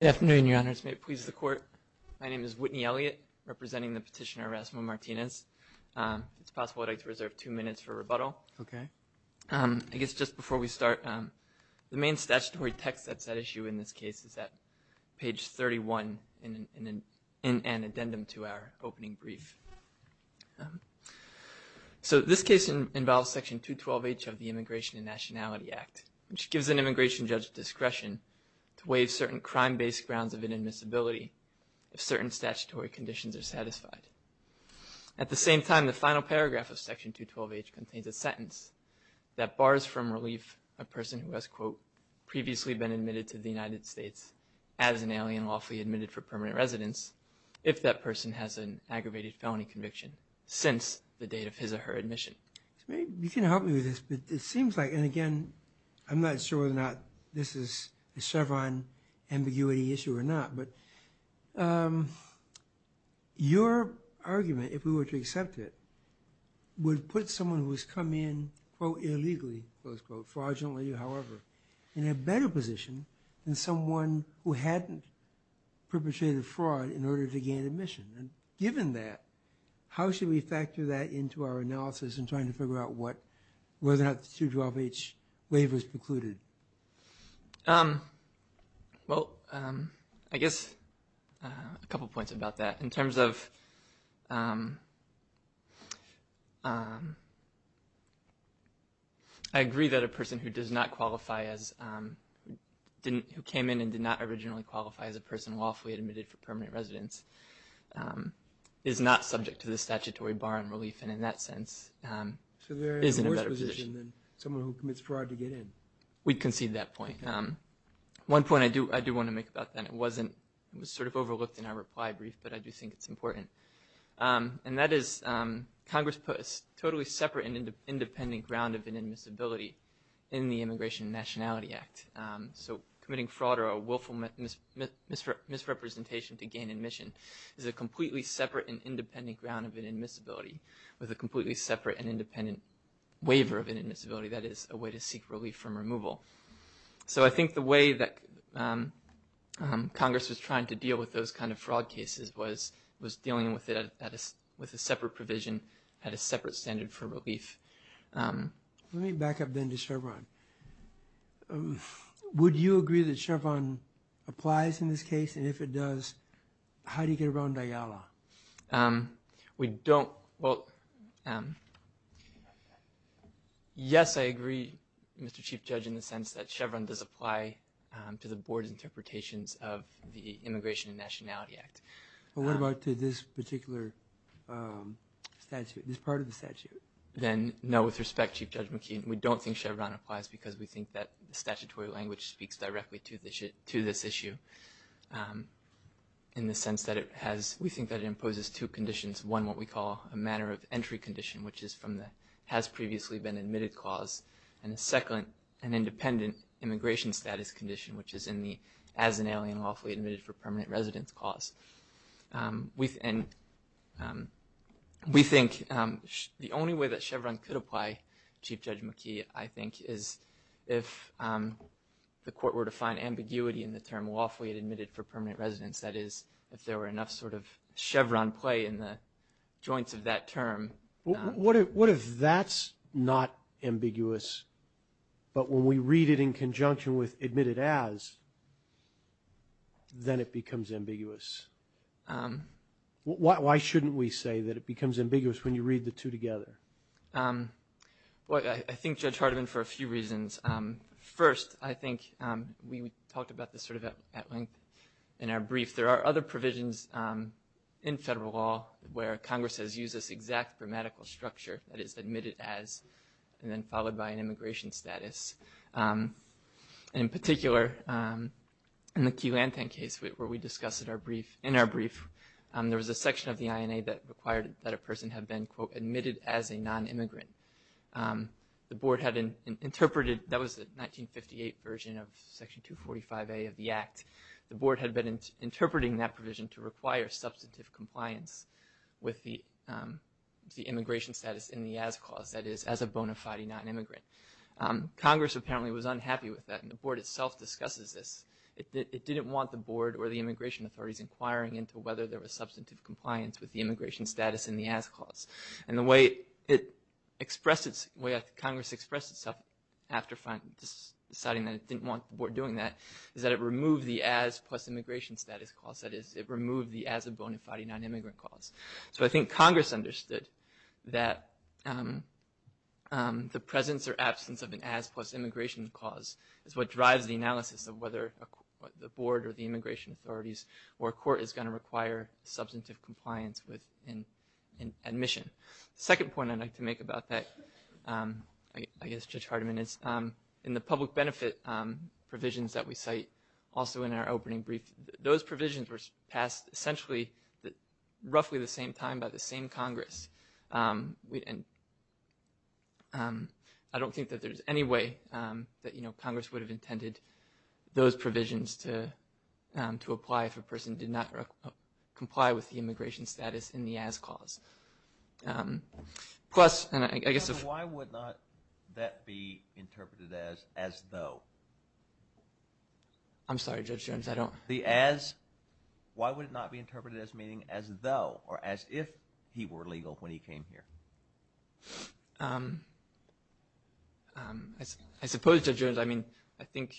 Good afternoon, Your Honors. May it please the Court, my name is Whitney Elliott, representing the petitioner Erasmo Martinez. If it's possible, I'd like to reserve two minutes for rebuttal. Okay. I guess just before we start, the main statutory text that's at issue in this case is at page 31 in an addendum to our opening brief. So this case involves Section 212H of the Immigration and Nationality Act, which gives an immigration judge discretion to waive certain crime-based grounds of inadmissibility if certain statutory conditions are satisfied. At the same time, the final paragraph of Section 212H contains a sentence that bars from relief a person who has previously been admitted to the United States as an alien lawfully admitted for permanent residence if that person has an aggravated felony conviction since the date of his or her admission. You can help me with this, but it seems like, and again, I'm not sure whether or not this is a Chevron ambiguity issue or not, but your argument, if we were to accept it, would put someone who has come in, quote, illegally, close quote, fraudulently, however, in a better position than someone who hadn't perpetrated fraud in order to gain admission. And given that, how should we factor that into our analysis in trying to figure out what, whether or not the 212H waiver is precluded? Well, I guess a couple points about that. In terms of, I agree that a person who does not qualify as, who came in and did not originally qualify as a person lawfully admitted for permanent residence is not subject to the statutory bar on relief, and in that sense, is in a better position. So there is a worse position than someone who commits fraud to get in. We concede that point. One point I do want to make about that, it wasn't, it was sort of overlooked in our reply brief, but I do think it's important. And that is, Congress put a totally separate and independent ground of inadmissibility in the Immigration and Nationality Act. So committing fraud or a willful misrepresentation to gain admission is a completely separate and independent ground of inadmissibility, with a completely separate and independent waiver of inadmissibility. That is a way to seek relief from removal. So I think the way that Congress was trying to deal with those kind of fraud cases was, was dealing with it at a, with a separate provision, had a separate standard for relief. Let me back up then to Chevron. Would you agree that Chevron applies in this case, and if it does, how do you get around DIALA? We don't, well, yes, I agree, Mr. Chief Judge, in the sense that Chevron does apply to the Board's interpretations of the Immigration and Nationality Act. But what about to this particular statute, this part of the statute? Then, no, with respect, Chief Judge McKeon, we don't think Chevron applies because we think that the statutory language speaks directly to this issue. In the sense that it has, we think that it imposes two conditions. One, what we call a manner of entry condition, which is from the has previously been admitted clause, and the second, an independent immigration status condition, which is in the as an alien lawfully admitted for permanent residence clause. We, and we think the only way that Chevron could apply, Chief Judge McKee, I think is if the court were to find ambiguity in the term lawfully admitted for permanent residence, that is, if there were enough sort of Chevron play in the joints of that term. What if, what if that's not ambiguous, but when we read it in conjunction with admitted as, then it becomes ambiguous? Why shouldn't we say that it becomes ambiguous when you read the two together? Well, I think, Judge Hardiman, for a few reasons. First, I think we talked about this sort of at length in our brief. There are other provisions in federal law where Congress has used this exact grammatical structure that is admitted as, and then followed by an immigration status. In particular, in the Key Lanthan case where we discussed in our brief, there was a section of the INA that required that a person had been, quote, admitted as a non-immigrant. The board had an interpreted, that was the 1958 version of Section 245A of the Act. The board had been interpreting that provision to require substantive compliance with the immigration status in the as clause, that is, as a bona fide non-immigrant. Congress apparently was unhappy with that, and the board itself discusses this. It didn't want the board or the immigration authorities inquiring into whether there was substantive compliance with the immigration status in the as clause. And the way it expressed its, the way Congress expressed itself after deciding that it didn't want the board doing that, is that it removed the as plus immigration status clause. That is, it removed the as a bona fide non-immigrant clause. So I think Congress understood that the presence or absence of an as plus immigration clause is what drives the analysis of whether the board or the immigration authorities or a court is going to require substantive compliance with an admission. The second point I'd like to make about that, I guess, Judge Hardiman, is in the public benefit provisions that we cite, also in our opening brief, those provisions were passed essentially roughly the same time by the same Congress. And I don't think that there's any way that, you know, Congress would have intended those provisions to apply if a person did not comply with the immigration status in the as clause. Plus, and I guess... I'm sorry, Judge Jones, I don't... Why would it not be interpreted as meaning as though, or as if, he were legal when he came here? I suppose, Judge Jones, I mean, I think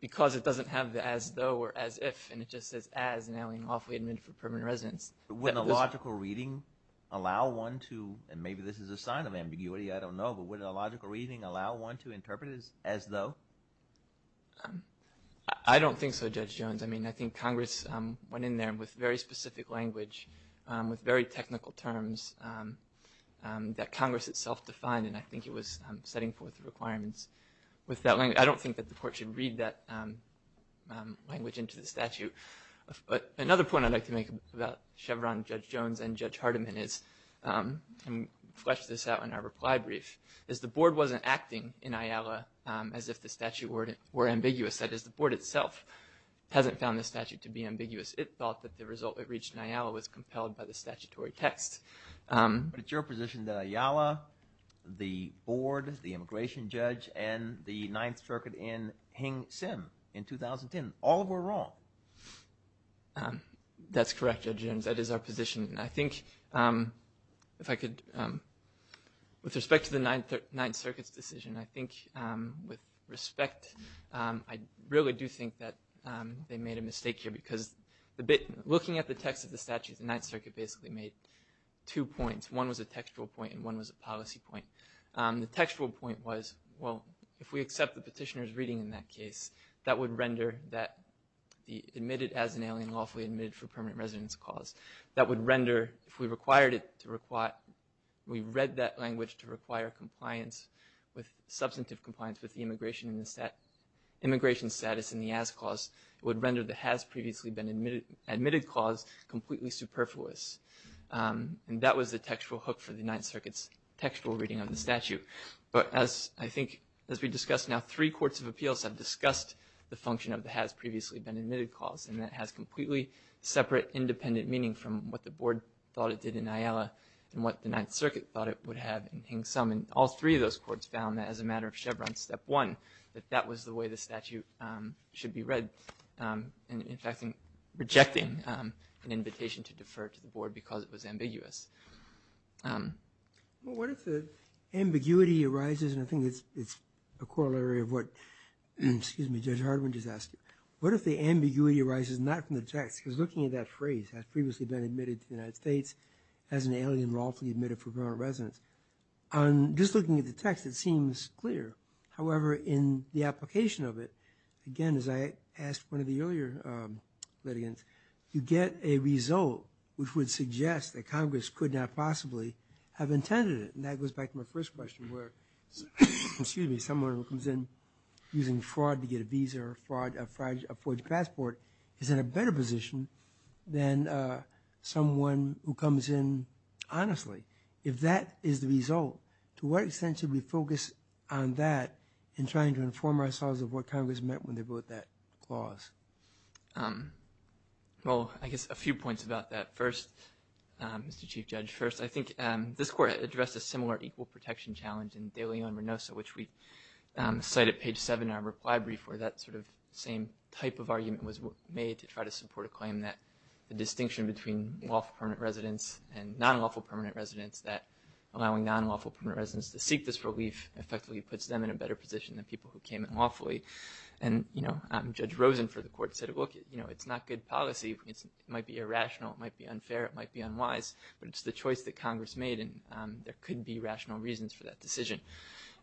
because it doesn't have the as though or as if, and it just says as now in lawful admittance for permanent residence. But wouldn't a logical reading allow one to, and maybe this is a sign of ambiguity, I don't know, but wouldn't a logical reading allow one to interpret it as though? I don't think so, Judge Jones. I mean, I think Congress went in there with very specific language, with very technical terms, that Congress itself defined, and I think it was setting forth the requirements with that language. I don't think that the court should read that language into the statute. But another point I'd like to make about Chevron, Judge Jones, and Judge Hardiman is, and flesh this out in our reply brief, is the board wasn't acting in Ayala as if the statute were ambiguous. That is, the board itself hasn't found the statute to be ambiguous. It thought that the result it reached in Ayala was compelled by the statutory text. But it's your position that Ayala, the board, the immigration judge, and the Ninth Circuit in Hing Sim in 2010, all were wrong. That's correct, Judge Jones, that is our position. I think if I could, with respect to the Ninth Circuit's decision, I think with respect, I really do think that they made a mistake here, because the bit, looking at the text of the statute, the Ninth Circuit basically made two points. One was a textual point, and one was a policy point. The textual point was, well, if we accept the petitioner's reading in that case, that would render that admitted as an alien lawfully admitted for permanent residence clause, that would render, if we required it to require, we read that language to require compliance with, substantive compliance with the immigration in the stat, immigration status in the as clause, it would render the has previously been admitted clause completely superfluous. And that was the textual hook for the Ninth Circuit's textual reading of the statute. But as I think, as we discussed now, three courts of appeals have discussed the function of the has previously been admitted clause, and that has completely separate, independent meaning from what the board thought it did in Ayala, and what the Ninth Circuit thought it would have in Hing Sim, and all three of those courts found that as a matter of Chevron step one, that that was the way the statute should be read, and in fact, rejecting an invitation to defer to the board because it was ambiguous. Well, what if the ambiguity arises, and I think it's a corollary of what, excuse me, Judge Hardiman just asked you. What if the ambiguity arises not from the text, because looking at that phrase, has previously been admitted to the United States, as an alien lawfully admitted for permanent residence, on just looking at the text, it seems clear. However, in the application of it, again, as I asked one of the earlier litigants, you get a result which would suggest that Congress could not possibly have intended it, and that goes back to my first question where, excuse me, someone who comes in using fraud to get a visa or a forged passport is in a better position than someone who comes in honestly. If that is the result, to what extent should we focus on that in trying to inform ourselves of what Congress meant when they wrote that clause? Well, I guess a few points about that. First, Mr. Chief Judge, first, I think this court addressed a similar equal protection challenge in De Leon-Renoso, which we cite at page 7 in our reply brief, where that sort of same type of argument was made to try to support a claim that the distinction between lawful permanent residence and non-lawful permanent residence, that allowing non-lawful permanent residence to seek this relief effectively puts them in a better position than people who came in lawfully, and you know, Judge Rosen for the court said, look, you know, it's not good policy. It might be irrational. It might be unfair. It might be unwise, but it's the choice that Congress made, and there could be rational reasons for that decision.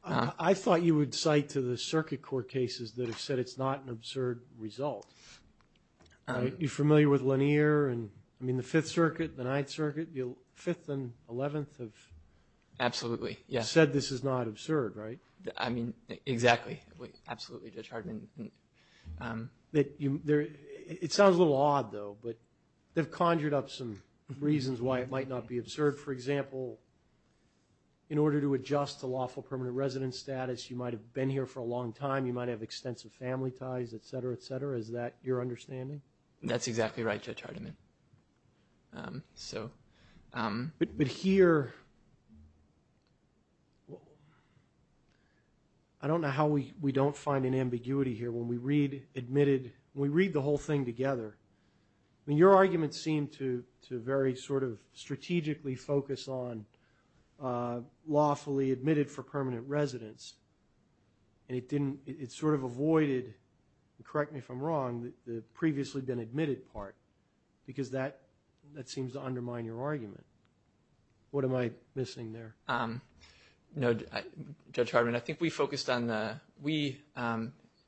I thought you would cite to the circuit court cases that have said it's not an absurd result. Are you familiar with Lanier and, I mean, the Fifth Circuit, the Ninth Circuit, the Fifth and Eleventh of... It sounds a little odd, though, but they've conjured up some reasons why it might not be absurd. For example, in order to adjust to lawful permanent residence status, you might have been here for a long time. You might have extensive family ties, etc., etc. Is that your understanding? That's exactly right, Judge Hardiman. So... But here, I don't know how we don't find an ambiguity here when we read admitted, when we read the whole thing together. I mean, your argument seemed to very sort of strategically focus on lawfully admitted for permanent residence, and it didn't, it sort of avoided, correct me if I'm wrong, the previously been admitted part, because that seems to undermine your argument. What am I missing there? No, Judge Hardiman, I think we focused on the, we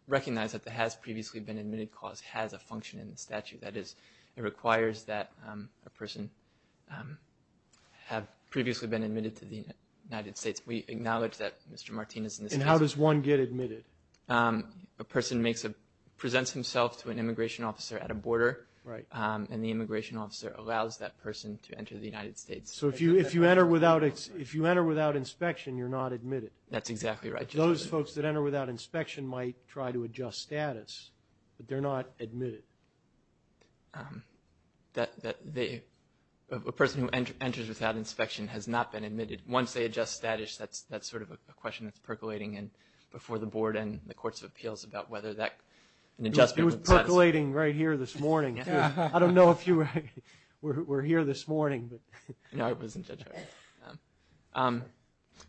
recognize that the has-previously-been-admitted cause has a function in the statute. That is, it requires that a person have previously been admitted to the United States. We acknowledge that, Mr. Martinez, in this case... And how does one get admitted? A person makes a, presents himself to an immigration officer at a border, and the immigration officer allows that person to enter the United States. So if you, if you enter without, if you enter without inspection, you're not admitted. That's exactly right, Judge Hardiman. Those folks that enter without inspection might try to adjust status, but they're not admitted. That, that they, a person who enters without inspection has not been admitted. Once they adjust status, that's, that's sort of a question that's percolating in before the board and the courts of appeals about whether that, an adjustment... It was percolating right here this morning. I don't know if you were here this morning, but... No, it wasn't, Judge Hardiman.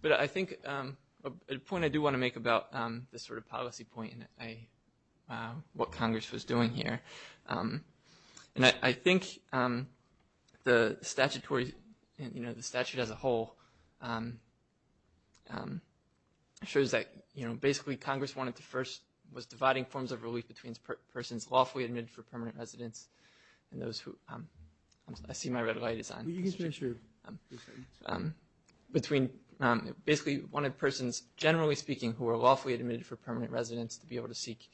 But I think a point I do want to make about this sort of policy point, and I, what Congress was doing here, and I think the statutory, you know, the statute as a whole shows that, you know, basically Congress wanted to first, was dividing forms of relief between persons lawfully admitted for permanent residence and those who... I see my red light is on. Between, basically wanted persons, generally speaking, who are lawfully admitted for permanent residence to be able to seek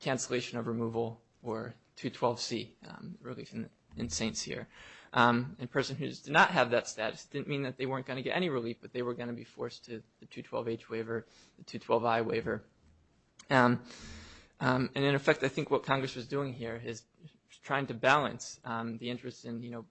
cancellation of removal or 212C, relief in Saints here. And a person who does not have that status didn't mean that they weren't going to get any relief, but they were going to be forced to the 212H waiver, the 212I waiver. And in effect, I think what Congress was doing here is trying to balance the interest in, you know,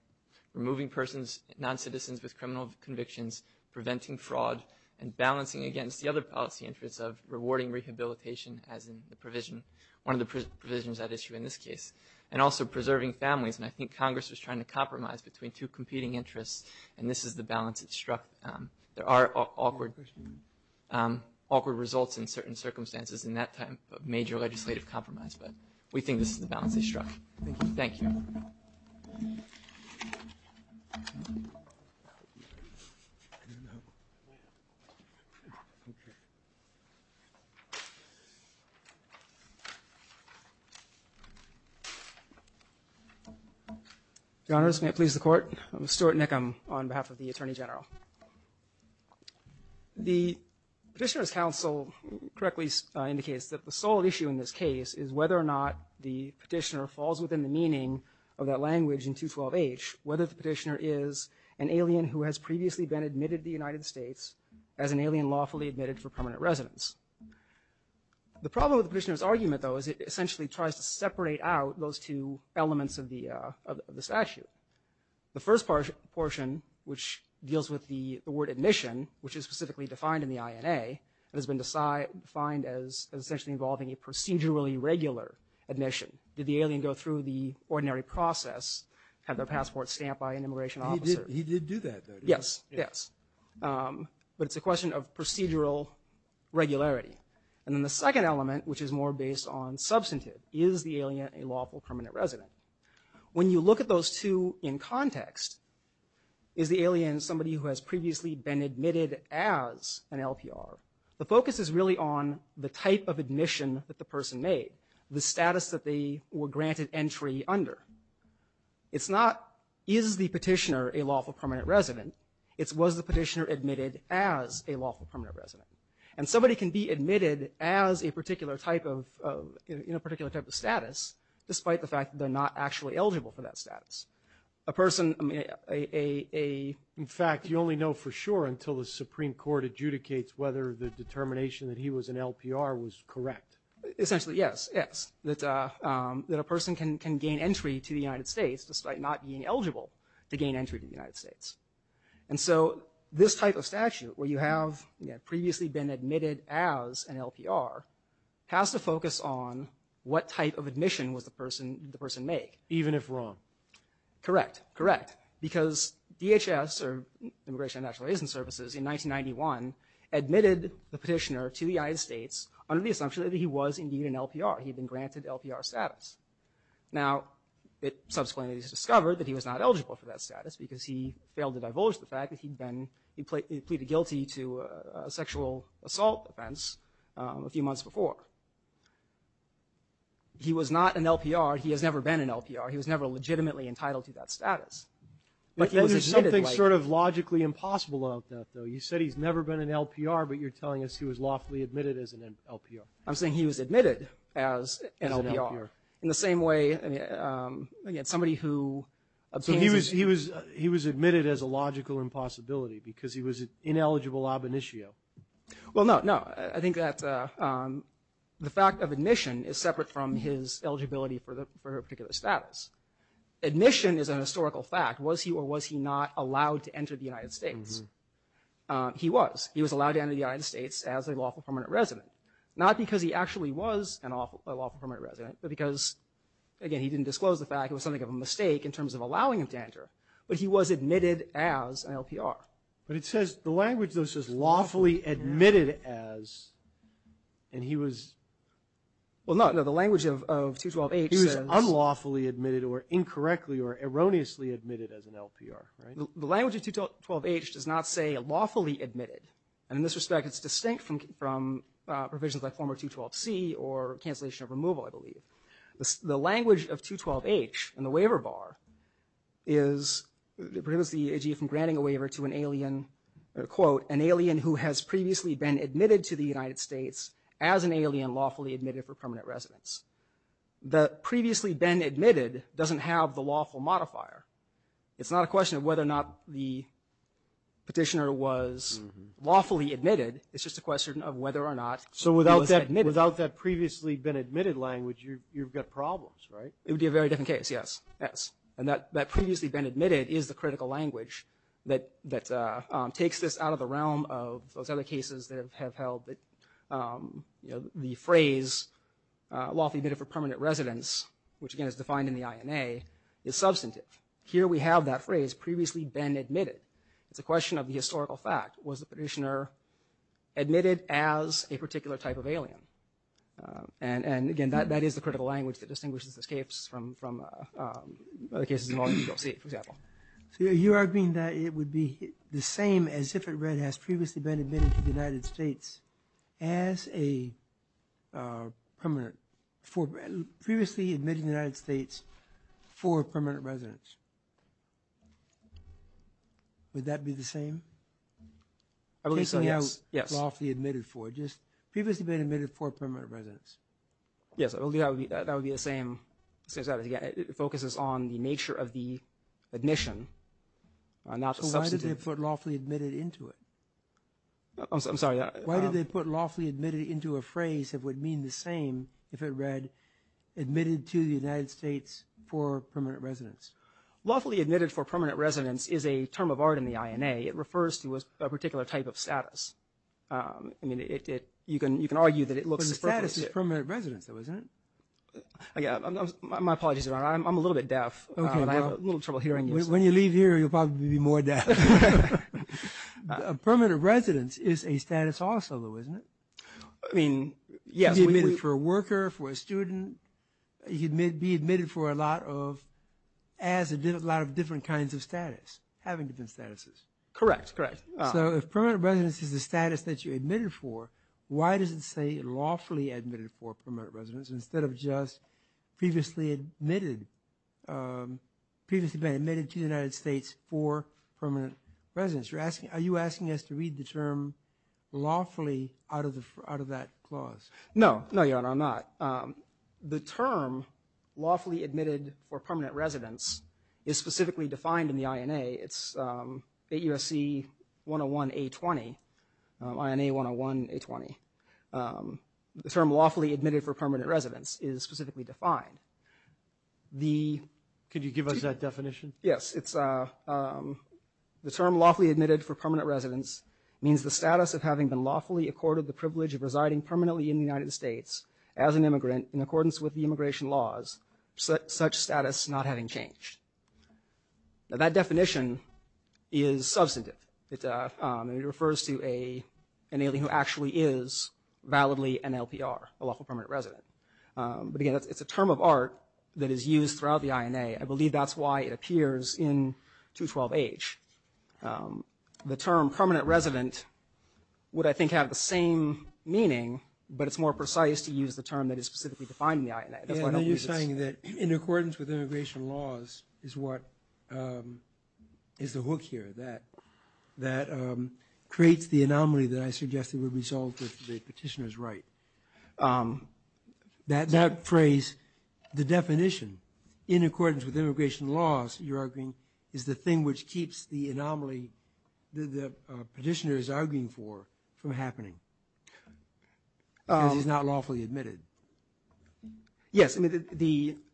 removing persons, non-citizens with criminal convictions, preventing fraud, and balancing against the other policy interests of rewarding rehabilitation as in the provision, one of the provisions at issue in this case, and also preserving families. And I think Congress was trying to compromise between two competing interests, and this is the balance it struck. There are awkward results in certain circumstances in that time of major legislative compromise, but we think this is the balance they struck. Thank you. Your Honors, may it please the Court. I'm Stuart Nickham on behalf of the Attorney General. The Petitioner's Counsel correctly indicates that the sole issue in this case is whether or not the Petitioner falls within the meaning of that language in 212H, whether the Petitioner is an alien who has previously been admitted to the United States as an alien lawfully admitted for permanent residence. The problem with the Petitioner's argument, though, is it essentially tries to separate out those two elements of the statute. The first portion, which deals with the word admission, which is specifically defined in the INA, has been defined as essentially involving a procedurally regular admission. Did the alien go through the ordinary process, have their passport stamped by an immigration officer? He did do that. Yes, yes. But it's a question of procedural regularity. And then the second element, which is more based on substantive, is the alien a lawful permanent resident? When you look at those two in context, is the alien somebody who has previously been admitted as an LPR? The focus is really on the type of admission that the person made, the status that they were granted entry under. It's not, is the Petitioner a lawful permanent resident? It's, was the Petitioner admitted as a lawful permanent resident? And somebody can be admitted as a particular type of, in a particular type of status, despite the fact that they're not actually eligible for that status. A person, I mean, a, a, in fact, you only know for sure until the Supreme Court adjudicates whether the determination that he was an LPR was correct. Essentially, yes, yes. That, that a person can, can gain entry to the United States, despite not being eligible to gain entry to the United States. And so this type of statute, where you have, you know, previously been admitted as an LPR, has to focus on what type of admission was the person, did the person make? Even if wrong. Correct, correct. Because DHS, or Immigration and Natural Resources, in 1991 admitted the Petitioner to the United States under the assumption that he was indeed an LPR. He'd been granted LPR status. Now, it subsequently was discovered that he was not eligible for that status because he failed to divulge the fact that he'd been, he pleaded guilty to a sexual assault offense a few months before. He was not an LPR. He has never been an LPR. He was never legitimately entitled to that status. But then there's something sort of logically impossible about that, though. You said he's never been an LPR, but you're telling us he was lawfully admitted as an LPR. I'm saying he was admitted as an LPR. In the same way, I mean, somebody who. So he was admitted as a logical impossibility because he was an ineligible ab initio. Well, no, no. I think that the fact of admission is separate from his eligibility for a particular status. Admission is an historical fact. Was he or was he not allowed to enter the United States? He was. He was allowed to enter the United States as a lawful permanent resident. Not because he actually was a lawful permanent resident, but because, again, he didn't disclose the fact it was something of a mistake in terms of allowing him to enter. But he was admitted as an LPR. But it says, the language, though, says lawfully admitted as, and he was. Well, no, no. The language of 212H says. He was unlawfully admitted or incorrectly or erroneously admitted as an LPR, right? The language of 212H does not say lawfully admitted. And in this respect, it's distinct from provisions like former 212C or cancellation of removal, I believe. The language of 212H in the waiver bar is, prohibits the AG from granting a waiver to an alien, quote, an alien who has previously been admitted to the United States as an alien lawfully admitted for permanent residence. The previously been admitted doesn't have the lawful modifier. It's not a question of whether or not the petitioner was lawfully admitted. It's just a question of whether or not he was admitted. Without that previously been admitted language, you've got problems, right? It would be a very different case, yes, yes. And that previously been admitted is the critical language that takes this out of the realm of those other cases that have held that, you know, the phrase lawfully admitted for permanent residence, which again is defined in the INA, is substantive. Here we have that phrase, previously been admitted. It's a question of the historical fact. Was the petitioner admitted as a particular type of alien? And again, that is the critical language that distinguishes escapes from other cases involving the ULC, for example. So you're arguing that it would be the same as if it read has previously been admitted to the United States as a permanent, for previously admitted to the United States for permanent residence. Would that be the same? Yes. Previously been admitted for permanent residence. Yes, that would be the same. It focuses on the nature of the admission, not the substantive. So why did they put lawfully admitted into it? I'm sorry. Why did they put lawfully admitted into a phrase that would mean the same if it read admitted to the United States for permanent residence? Lawfully admitted for permanent residence is a term of art in the INA. It refers to a particular type of status. I mean, you can argue that it looks perfect. But the status is permanent residence though, isn't it? My apologies, Your Honor. I'm a little bit deaf. I have a little trouble hearing you. When you leave here, you'll probably be more deaf. Permanent residence is a status also, though, isn't it? I mean, yes. It could be admitted for a worker, for a student. It could be admitted for a lot of different kinds of status, having different statuses. Correct, correct. So if permanent residence is the status that you're admitted for, why does it say lawfully admitted for permanent residence instead of just previously admitted to the United States for permanent residence? Are you asking us to read the term lawfully out of that clause? No. No, Your Honor, I'm not. The term lawfully admitted for permanent residence is specifically defined in the INA. It's AUSC 101A20, INA 101A20. The term lawfully admitted for permanent residence is specifically defined. Could you give us that definition? Yes. It's the term lawfully admitted for permanent residence means the status of having been lawfully accorded the privilege of residing permanently in the United States as an immigrant in accordance with the immigration laws, such status not having changed. Now, that definition is substantive. It refers to an alien who actually is validly an LPR, a lawful permanent resident. But, again, it's a term of art that is used throughout the INA. I believe that's why it appears in 212H. The term permanent resident would, I think, have the same meaning, but it's more precise to use the term that is specifically defined in the INA. That's why I don't use it. You're saying that in accordance with immigration laws is what is the hook here, that creates the anomaly that I suggested would result with the petitioner's right. That phrase, the definition, in accordance with immigration laws, you're arguing, is the thing which keeps the anomaly that the petitioner is arguing for from happening because he's not lawfully admitted. Yes.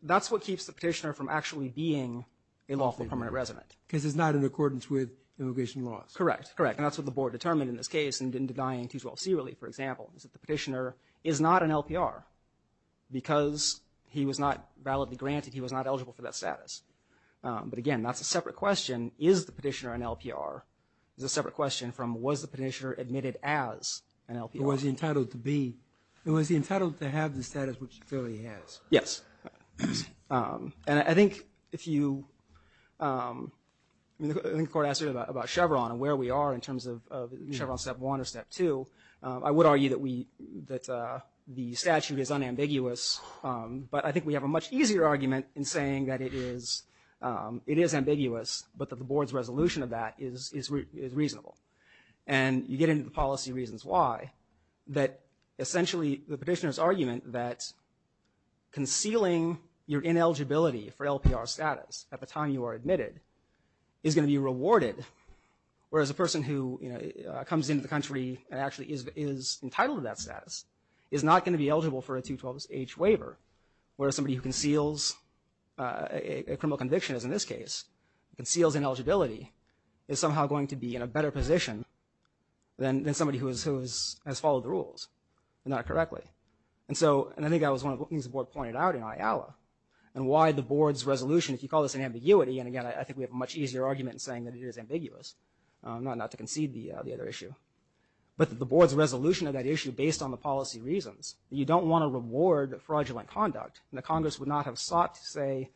That's what keeps the petitioner from actually being a lawful permanent resident. Because it's not in accordance with immigration laws. Correct. Correct. And that's what the board determined in this case in denying 212C relief, for example, is that the petitioner is not an LPR because he was not validly granted, he was not eligible for that status. But, again, that's a separate question. Is the petitioner an LPR? It's a separate question from was the petitioner admitted as an LPR? It was entitled to be. It was entitled to have the status which he clearly has. Yes. And I think if you, I think the court asked about Chevron and where we are in terms of Chevron Step 1 or Step 2, I would argue that we, that the statute is unambiguous, but I think we have a much easier argument in saying that it is ambiguous, but that the board's resolution of that is reasonable. And you get into the policy reasons why, that essentially the petitioner's argument that concealing your ineligibility for LPR status at the time you are awarded, whereas a person who, you know, comes into the country and actually is entitled to that status, is not going to be eligible for a 212H waiver, whereas somebody who conceals a criminal conviction, as in this case, conceals ineligibility, is somehow going to be in a better position than somebody who has followed the rules, if not correctly. And so, and I think that was one of the things the board pointed out in Ayala, and why the board's resolution, if you call this an ambiguity, and, again, I think we have a much easier argument in saying that it is ambiguous, not to concede the other issue, but the board's resolution of that issue, based on the policy reasons, you don't want to reward fraudulent conduct, and the Congress would not have sought to say,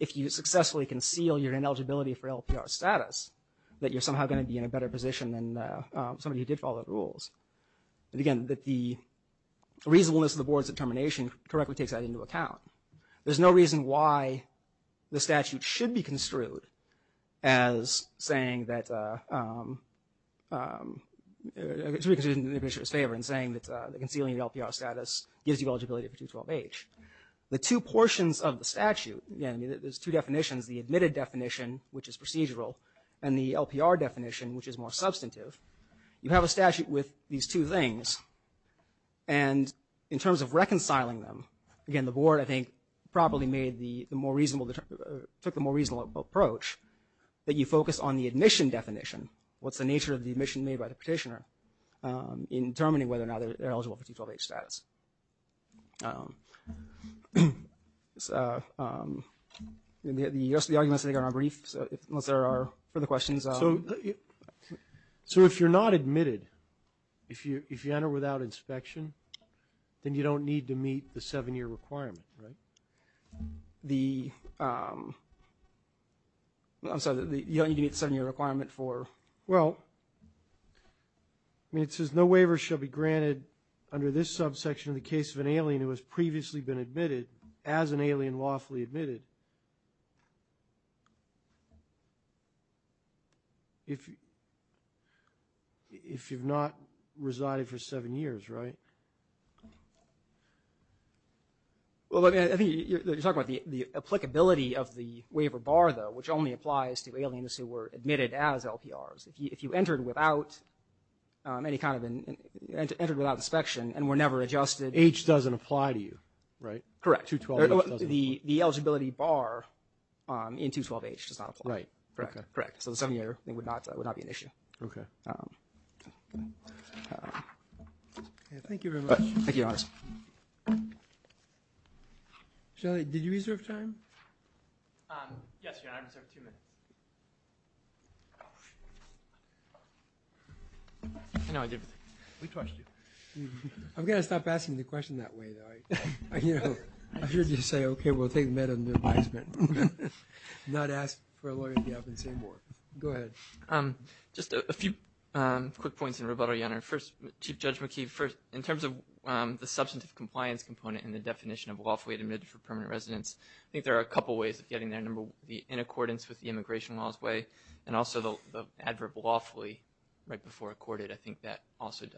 if you successfully conceal your ineligibility for LPR status, that you're somehow going to be in a better position than somebody who did follow the rules. And, again, that the reasonableness of the board's determination correctly takes that into account. There's no reason why the statute should be construed as saying that, should be construed in the administrator's favor in saying that concealing LPR status gives you eligibility for 212H. The two portions of the statute, again, there's two definitions, the admitted definition, which is procedural, and the LPR definition, which is more substantive, you have a statute with these two things, and in terms of properly made the more reasonable, took the more reasonable approach, that you focus on the admission definition, what's the nature of the admission made by the petitioner, in determining whether or not they're eligible for 212H status. The rest of the arguments, I think, are brief, unless there are further questions. So if you're not admitted, if you enter without inspection, then you don't need to meet the seven-year requirement, right? I'm sorry, you don't need to meet the seven-year requirement for? Well, I mean, it says no waiver shall be granted under this subsection in the case of an alien who has previously been admitted, as an alien lawfully Well, I think you're talking about the applicability of the waiver bar, though, which only applies to aliens who were admitted as LPRs. If you entered without inspection and were never adjusted. H doesn't apply to you, right? Correct. The eligibility bar in 212H does not apply. Right. Correct. So the seven-year would not be an issue. Okay. Thank you very much. Thank you, August. Shelley, did you reserve time? Yes, Your Honor. I just have two minutes. I know I did. We touched you. I'm going to stop asking the question that way, though. I hear you say, okay, we'll take that under advisement. Not ask for a lawyer to be up and say more. Go ahead. Just a few quick points in rebuttal, Your Honor. First, Chief Judge McKee, in terms of the substantive compliance component and the definition of lawfully admitted for permanent residence, I think there are a couple ways of getting there. Number one, the in accordance with the immigration laws way, and also the adverb lawfully, right before accorded. I think that also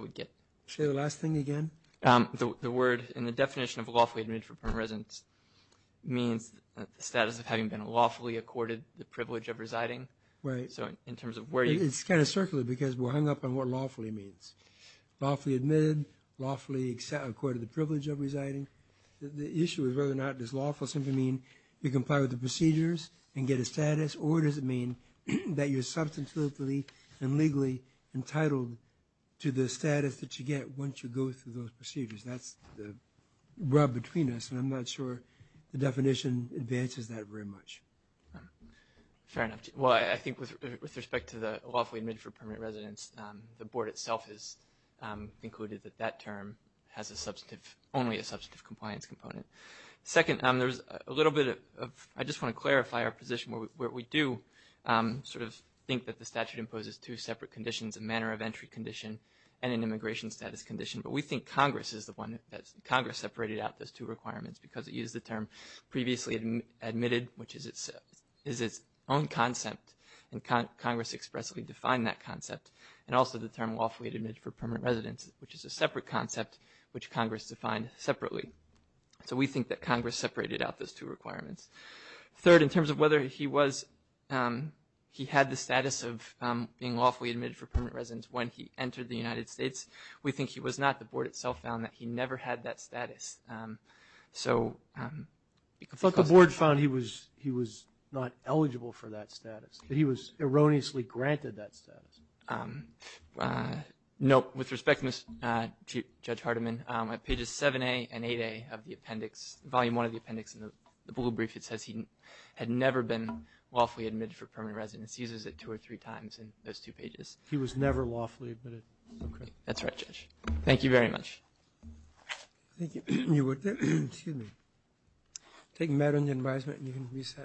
would get. Say the last thing again. The word and the definition of lawfully admitted for permanent residence means the status of having been lawfully accorded the privilege of residing. Right. So in terms of where you It's kind of circular because we're hung up on what lawfully means. Lawfully admitted, lawfully accorded the privilege of residing. The issue is whether or not does lawfully simply mean you comply with the procedures and get a status, or does it mean that you're substantively and legally entitled to the status that you get once you go through those procedures. That's the rub between us, and I'm not sure the definition advances that very much. Fair enough. Well, I think with respect to the lawfully admitted for permanent residence, the board itself has included that that term has only a substantive compliance component. Second, there's a little bit of, I just want to clarify our position, where we do sort of think that the statute imposes two separate conditions, a manner of entry condition and an immigration status condition. But we think Congress is the one that, Congress separated out those two requirements because it used the term previously admitted, which is its own concept, and Congress expressly defined that concept, and also the term lawfully admitted for permanent residence, which is a separate concept which Congress defined separately. So we think that Congress separated out those two requirements. Third, in terms of whether he was, he had the status of being lawfully admitted for permanent residence when he entered the United States, we think he was not. The board itself found that he never had that status. I thought the board found he was not eligible for that status, that he was erroneously granted that status. Nope. With respect, Judge Hardiman, at pages 7A and 8A of the appendix, volume one of the appendix in the bullet brief, it says he had never been lawfully admitted for permanent residence. He uses it two or three times in those two pages. He was never lawfully admitted. That's right, Judge. Thank you very much. Thank you. You're welcome. Excuse me. Take matter into advisement and you can reset.